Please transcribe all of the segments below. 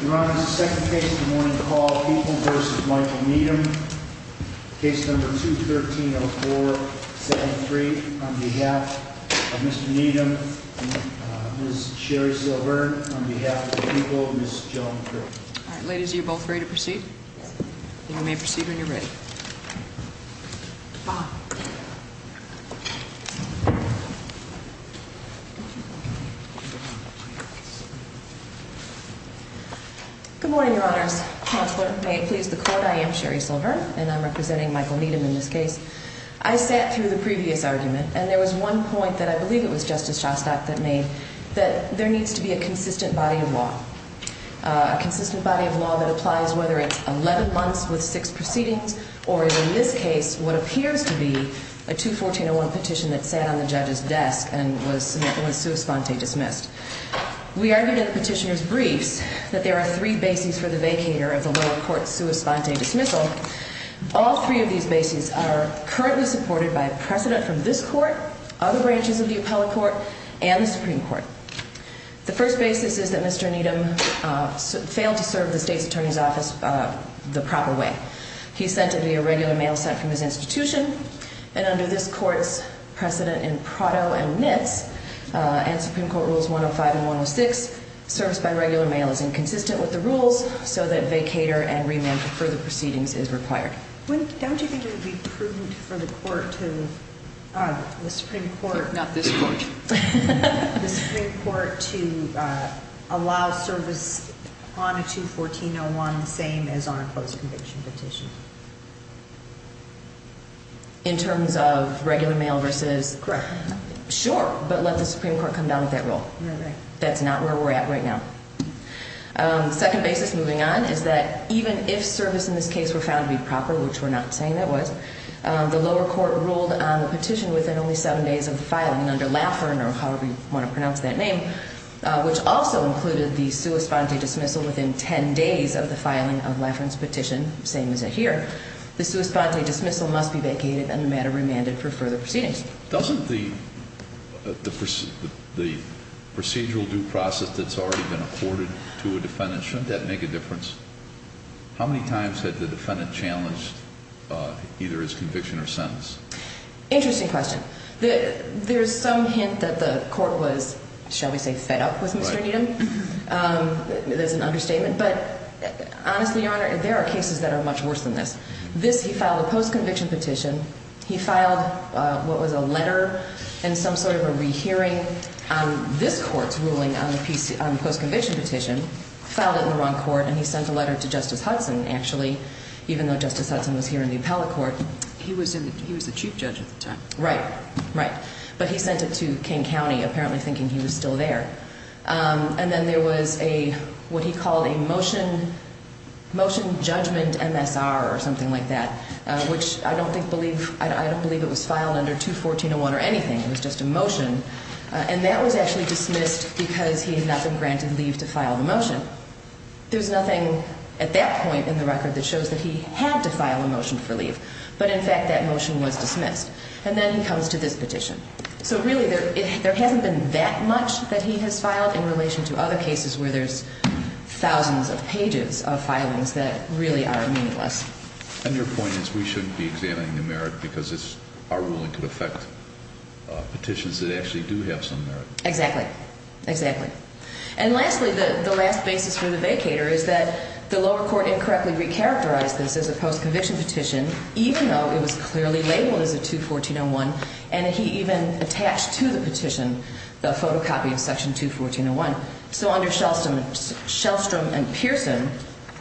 Your Honor, this is the second case of the morning, Paul People v. Michael Needham, case number 213-04-73, on behalf of Mr. Needham and Ms. Sherry Silver, and on behalf of the People, Ms. Joan Kirk. All right, ladies, are you both ready to proceed? Yes. Good morning, Your Honors. Counselor, may it please the Court, I am Sherry Silver, and I'm representing Michael Needham in this case. I sat through the previous argument, and there was one point that I believe it was Justice Shostak that made, that there needs to be a consistent body of law. A consistent body of law that applies whether it's 11 months with six proceedings or, in this case, what appears to be a 214-01 petition that sat on the judge's desk and was sua sponte, dismissed. We argued in the petitioner's briefs that there are three bases for the vacator of the lower court sua sponte dismissal. All three of these bases are currently supported by precedent from this Court, other branches of the appellate court, and the Supreme Court. The first basis is that Mr. Needham failed to serve the state's attorney's office the proper way. He sent it via regular mail sent from his institution, and under this Court's precedent in Prado and Nitz and Supreme Court Rules 105 and 106, service by regular mail is inconsistent with the rules so that vacator and remand for further proceedings is required. Don't you think it would be prudent for the Supreme Court to allow service on a 214-01 the same as on a closed conviction petition? In terms of regular mail versus? Correct. Sure, but let the Supreme Court come down with that rule. That's not where we're at right now. The second basis, moving on, is that even if service in this case were found to be proper, which we're not saying that was, the lower court ruled on the petition within only seven days of filing, and under Laffern, or however you want to pronounce that name, which also included the sua sponte dismissal within 10 days of the filing of Laffern's petition, same as it here, the sua sponte dismissal must be vacated and the matter remanded for further proceedings. Doesn't the procedural due process that's already been afforded to a defendant, shouldn't that make a difference? How many times had the defendant challenged either his conviction or sentence? Interesting question. There's some hint that the court was, shall we say, fed up with Mr. Needham. There's an understatement, but honestly, Your Honor, there are cases that are much worse than this. This, he filed a post-conviction petition. He filed what was a letter and some sort of a rehearing on this court's ruling on the post-conviction petition, filed it in the wrong court, and he sent a letter to Justice Hudson, actually, even though Justice Hudson was here in the appellate court. He was the chief judge at the time. Right, right. But he sent it to King County, apparently thinking he was still there. And then there was what he called a motion judgment MSR or something like that, which I don't believe it was filed under 214.01 or anything. It was just a motion, and that was actually dismissed because he had not been granted leave to file the motion. There's nothing at that point in the record that shows that he had to file a motion for leave, but in fact, that motion was dismissed. And then he comes to this petition. So really, there hasn't been that much that he has filed in relation to other cases where there's thousands of pages of filings that really are meaningless. And your point is we shouldn't be examining the merit because our ruling could affect petitions that actually do have some merit. Exactly, exactly. And lastly, the last basis for the vacator is that the lower court incorrectly recharacterized this as a post-conviction petition, even though it was clearly labeled as a 214.01, and he even attached to the petition the photocopy of section 214.01. So under Shellstrom and Pearson,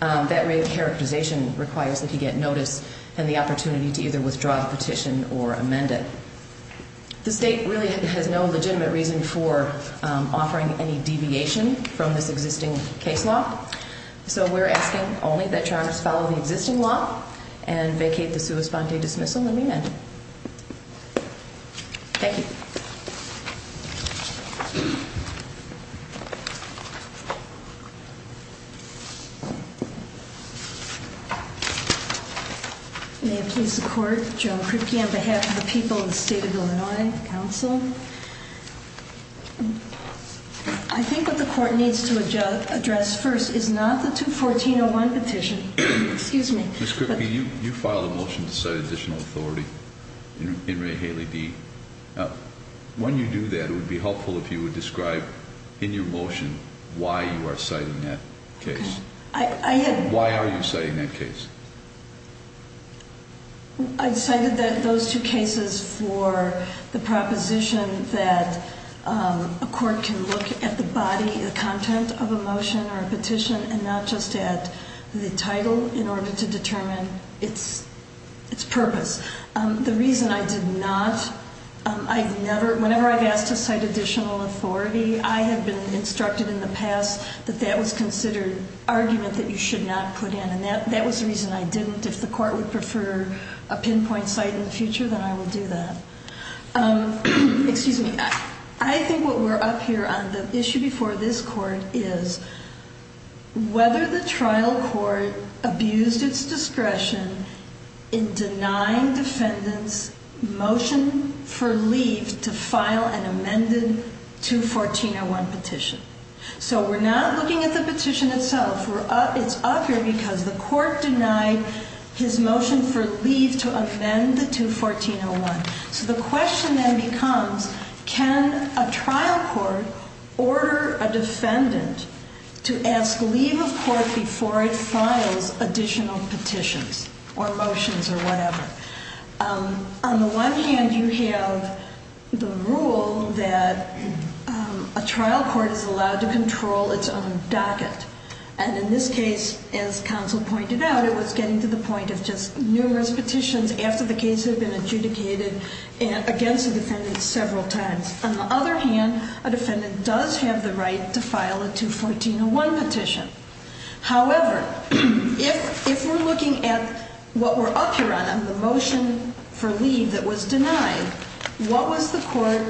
that recharacterization requires that he get notice and the opportunity to either withdraw the petition or amend it. The state really has no legitimate reason for offering any deviation from this existing case law. So we're asking only that your honors follow the existing law and vacate the sua sponte dismissal and amend it. Thank you. May it please the court, Joan Kripke on behalf of the people of the state of Illinois, counsel. I think what the court needs to address first is not the 214.01 petition. Ms. Kripke, you filed a motion to cite additional authority in Ray Haley D. When you do that, it would be helpful if you would describe in your motion why you are citing that case. Why are you citing that case? I cited those two cases for the proposition that a court can look at the body, the content of a motion or a petition, and not just at the title in order to determine its purpose. The reason I did not, I never, whenever I've asked to cite additional authority, I have been instructed in the past that that was considered argument that you should not put in, and that was the reason I didn't. If the court would prefer a pinpoint site in the future, then I will do that. Excuse me. I think what we're up here on the issue before this court is whether the trial court abused its discretion in denying defendants motion for leave to file an amended 214.01 petition. So we're not looking at the petition itself. It's up here because the court denied his motion for leave to amend the 214.01. So the question then becomes, can a trial court order a defendant to ask leave of court before it files additional petitions or motions or whatever? On the one hand, you have the rule that a trial court is allowed to control its own docket, and in this case, as counsel pointed out, it was getting to the point of just numerous petitions after the case had been adjudicated against the defendant several times. On the other hand, a defendant does have the right to file a 214.01 petition. However, if we're looking at what we're up here on, on the motion for leave that was denied, what was the court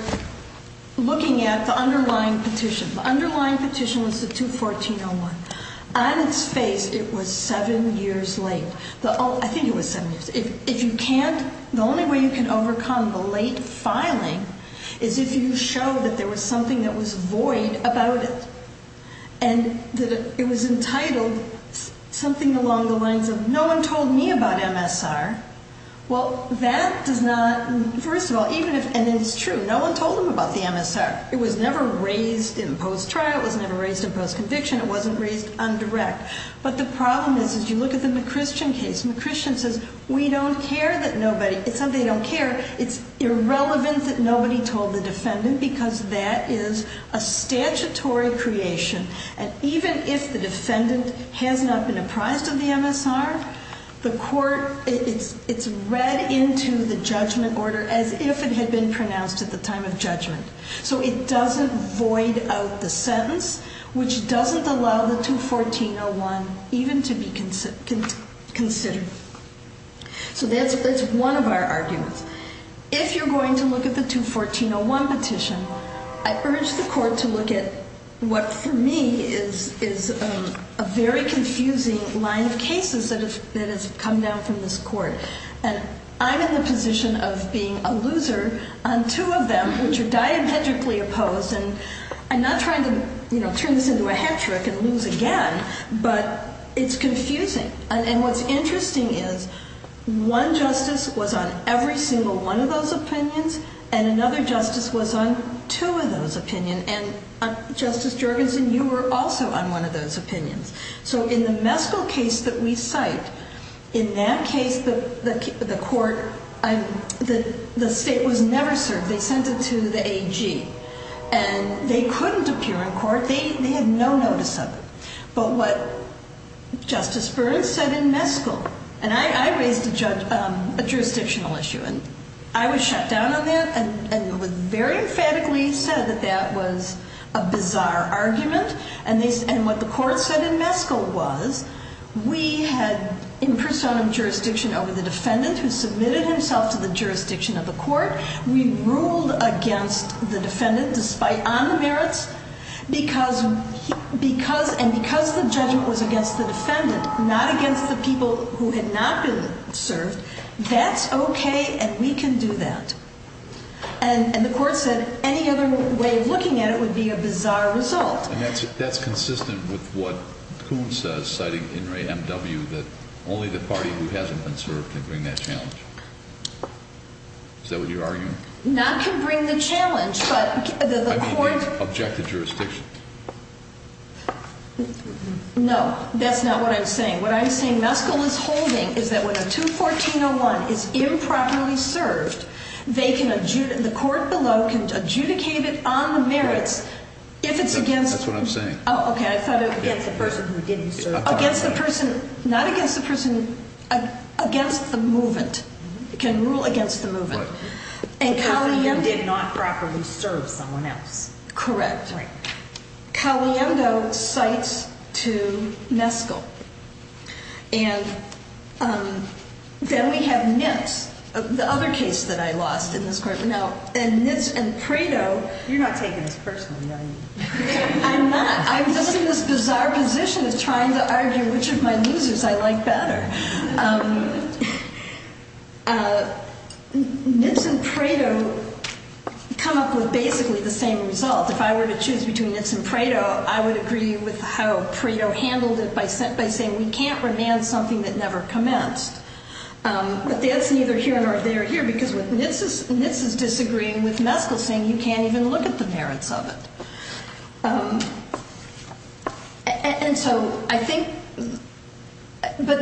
looking at the underlying petition? The underlying petition was the 214.01. On its face, it was seven years late. I think it was seven years. If you can't, the only way you can overcome the late filing is if you show that there was something that was void about it and that it was entitled something along the lines of no one told me about MSR. Well, that does not, first of all, even if, and it's true, no one told him about the MSR. It was never raised in post-trial. It was never raised in post-conviction. It wasn't raised on direct. But the problem is, as you look at the McChristian case, McChristian says, we don't care that nobody, it's not that they don't care. It's irrelevant that nobody told the defendant because that is a statutory creation, and even if the defendant has not been apprised of the MSR, the court, it's read into the judgment order as if it had been pronounced at the time of judgment. So it doesn't void out the sentence, which doesn't allow the 214-01 even to be considered. So that's one of our arguments. If you're going to look at the 214-01 petition, I urge the court to look at what, for me, is a very confusing line of cases that has come down from this court, and I'm in the position of being a loser on two of them, which are diametrically opposed, and I'm not trying to turn this into a hat trick and lose again, but it's confusing. And what's interesting is one justice was on every single one of those opinions and another justice was on two of those opinions, and, Justice Jorgensen, you were also on one of those opinions. So in the Meskell case that we cite, in that case the court, the state was never served. They sent it to the AG, and they couldn't appear in court. They had no notice of it. But what Justice Burns said in Meskell, and I raised a jurisdictional issue, and I was shut down on that and it was very emphatically said that that was a bizarre argument, and what the court said in Meskell was we had in personam jurisdiction over the defendant who submitted himself to the jurisdiction of the court. We ruled against the defendant despite on the merits, and because the judgment was against the defendant, not against the people who had not been served, that's okay and we can do that. And the court said any other way of looking at it would be a bizarre result. And that's consistent with what Kuhn says, citing In re M.W., that only the party who hasn't been served can bring that challenge. Is that what you're arguing? Not can bring the challenge, but the court... I mean the objected jurisdiction. No, that's not what I'm saying. What I'm saying Meskell is holding is that when a 214-01 is improperly served, the court below can adjudicate it on the merits if it's against... That's what I'm saying. Oh, okay. Against the person who didn't serve. Against the person, not against the person, against the movant. It can rule against the movant. If the person did not properly serve someone else. Correct. Right. Caliendo cites to Meskell. And then we have Nitz, the other case that I lost in this court. Now, Nitz and Prado... You're not taking this personally, are you? I'm not. I'm just in this bizarre position of trying to argue which of my losers I like better. Nitz and Prado come up with basically the same result. If I were to choose between Nitz and Prado, I would agree with how Prado handled it by saying, we can't remand something that never commenced. But that's neither here nor there here because Nitz is disagreeing with Meskell, saying you can't even look at the merits of it. And so I think that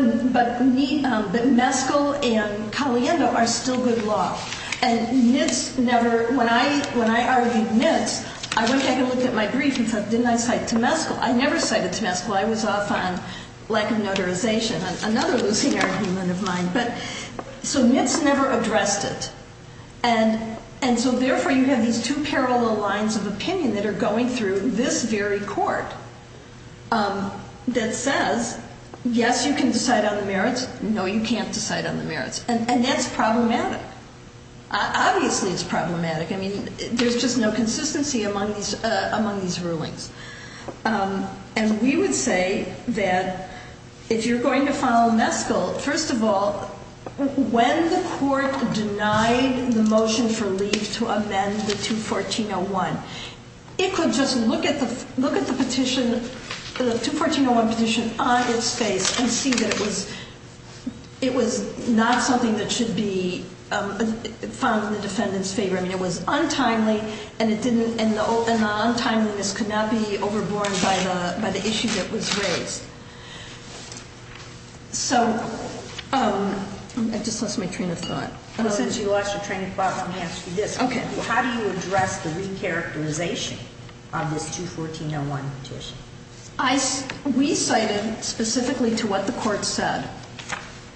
Meskell and Caliendo are still good law. And Nitz never... When I argued Nitz, I went back and looked at my brief and thought, didn't I cite to Meskell? I never cited to Meskell. I was off on lack of notarization, another losing argument of mine. So Nitz never addressed it. And so therefore you have these two parallel lines of opinion that are going through this very court that says, yes, you can decide on the merits, no, you can't decide on the merits. And that's problematic. Obviously it's problematic. I mean, there's just no consistency among these rulings. And we would say that if you're going to follow Meskell, first of all, when the court denied the motion for leave to amend the 214-01, it could just look at the petition, the 214-01 petition on its face and see that it was not something that should be found in the defendant's favor. I mean, it was untimely, and the untimeliness could not be overborne by the issue that was raised. So... I just lost my train of thought. Well, since you lost your train of thought, let me ask you this. Okay. How do you address the recharacterization of this 214-01 petition? We cited specifically to what the court said.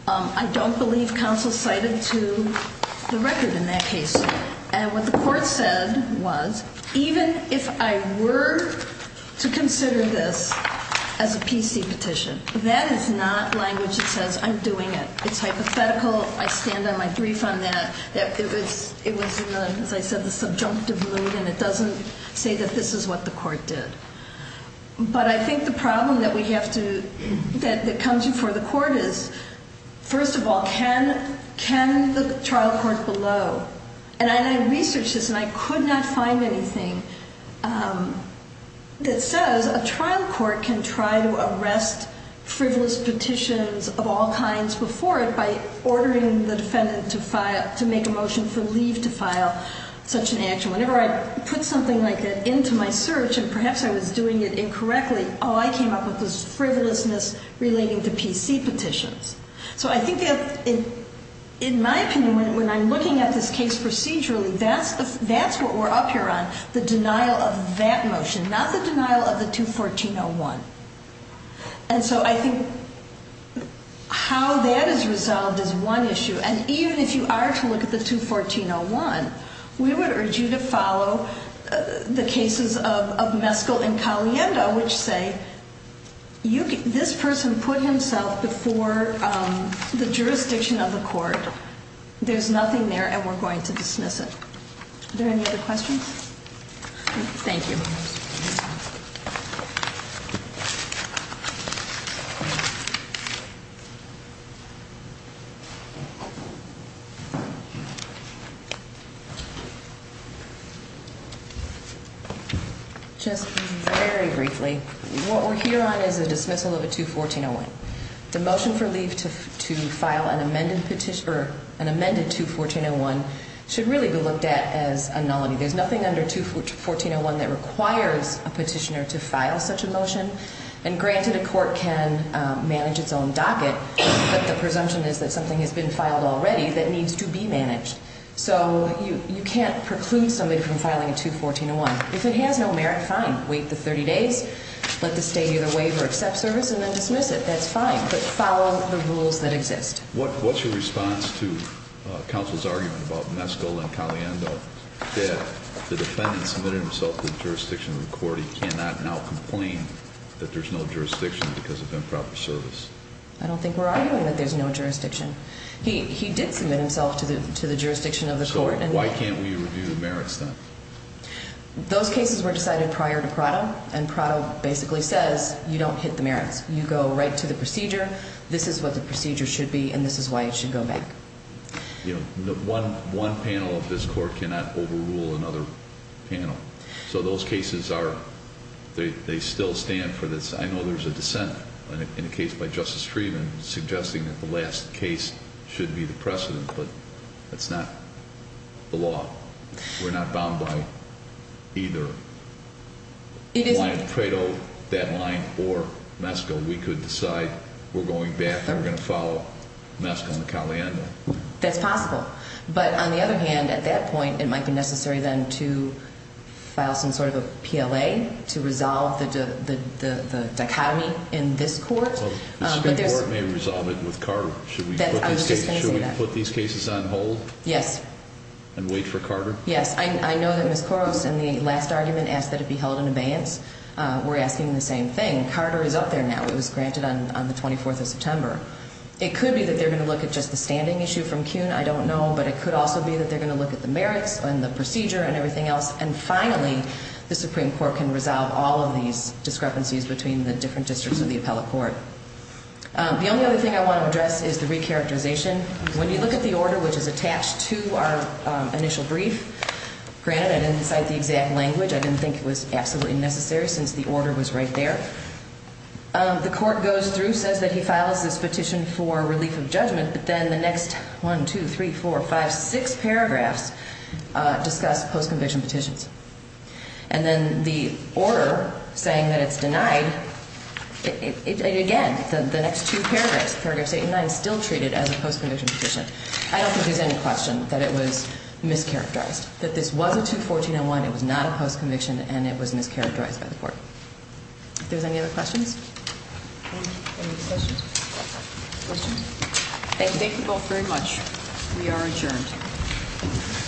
I don't believe counsel cited to the record in that case. And what the court said was, even if I were to consider this as a PC petition, that is not language that says I'm doing it. It's hypothetical. I stand on my brief on that. It was, as I said, the subjunctive mood, and it doesn't say that this is what the court did. But I think the problem that comes before the court is, first of all, can the trial court below? And I researched this, and I could not find anything that says a trial court can try to arrest frivolous petitions of all kinds before it by ordering the defendant to make a motion for leave to file such an action. Whenever I put something like that into my search, and perhaps I was doing it incorrectly, all I came up with was frivolousness relating to PC petitions. So I think that, in my opinion, when I'm looking at this case procedurally, that's what we're up here on, the denial of that motion, not the denial of the 214-01. And so I think how that is resolved is one issue. And even if you are to look at the 214-01, we would urge you to follow the cases of Meskel and Caliendo, which say this person put himself before the jurisdiction of the court. There's nothing there, and we're going to dismiss it. Are there any other questions? Thank you. Just very briefly, what we're here on is a dismissal of a 214-01. The motion for leave to file an amended petition or an amended 214-01 should really be looked at as a nullity. There's nothing under 214-01 that requires a petitioner to file such a motion. And granted, a court can manage its own docket, but the presumption is that something has been filed already, that needs to be managed. So you can't preclude somebody from filing a 214-01. If it has no merit, fine, wait the 30 days, let the state either waive or accept service, and then dismiss it. That's fine, but follow the rules that exist. What's your response to counsel's argument about Meskel and Caliendo, that the defendant submitted himself to the jurisdiction of the court, he cannot now complain that there's no jurisdiction because of improper service? I don't think we're arguing that there's no jurisdiction. He did submit himself to the jurisdiction of the court. So why can't we review the merits then? Those cases were decided prior to Prado, and Prado basically says, you don't hit the merits. You go right to the procedure, this is what the procedure should be, and this is why it should go back. One panel of this court cannot overrule another panel. So those cases are, they still stand for this. I know there's a dissent in a case by Justice Freeman suggesting that the last case should be the precedent, but that's not the law. We're not bound by either line of Prado, that line, or Meskel. We could decide we're going back and we're going to follow Meskel and Caliendo. That's possible. But on the other hand, at that point, it might be necessary then to file some sort of a PLA to resolve the dichotomy in this court. The Supreme Court may resolve it with Carter. I was just going to say that. Should we put these cases on hold? Yes. And wait for Carter? Yes. I know that Ms. Koros in the last argument asked that it be held in abeyance. We're asking the same thing. Carter is up there now. It was granted on the 24th of September. It could be that they're going to look at just the standing issue from Kuhn. I don't know. But it could also be that they're going to look at the merits and the procedure and everything else. And finally, the Supreme Court can resolve all of these discrepancies between the different districts of the appellate court. The only other thing I want to address is the recharacterization. When you look at the order which is attached to our initial brief, granted I didn't cite the exact language. I didn't think it was absolutely necessary since the order was right there. The court goes through, says that he files this petition for relief of judgment. But then the next one, two, three, four, five, six paragraphs discuss post-conviction petitions. And then the order saying that it's denied, again, the next two paragraphs, paragraph 89, still treat it as a post-conviction petition. I don't think there's any question that it was mischaracterized, that this was a 214-01. It was not a post-conviction, and it was mischaracterized by the court. If there's any other questions? Any discussion? Thank you both very much. We are adjourned.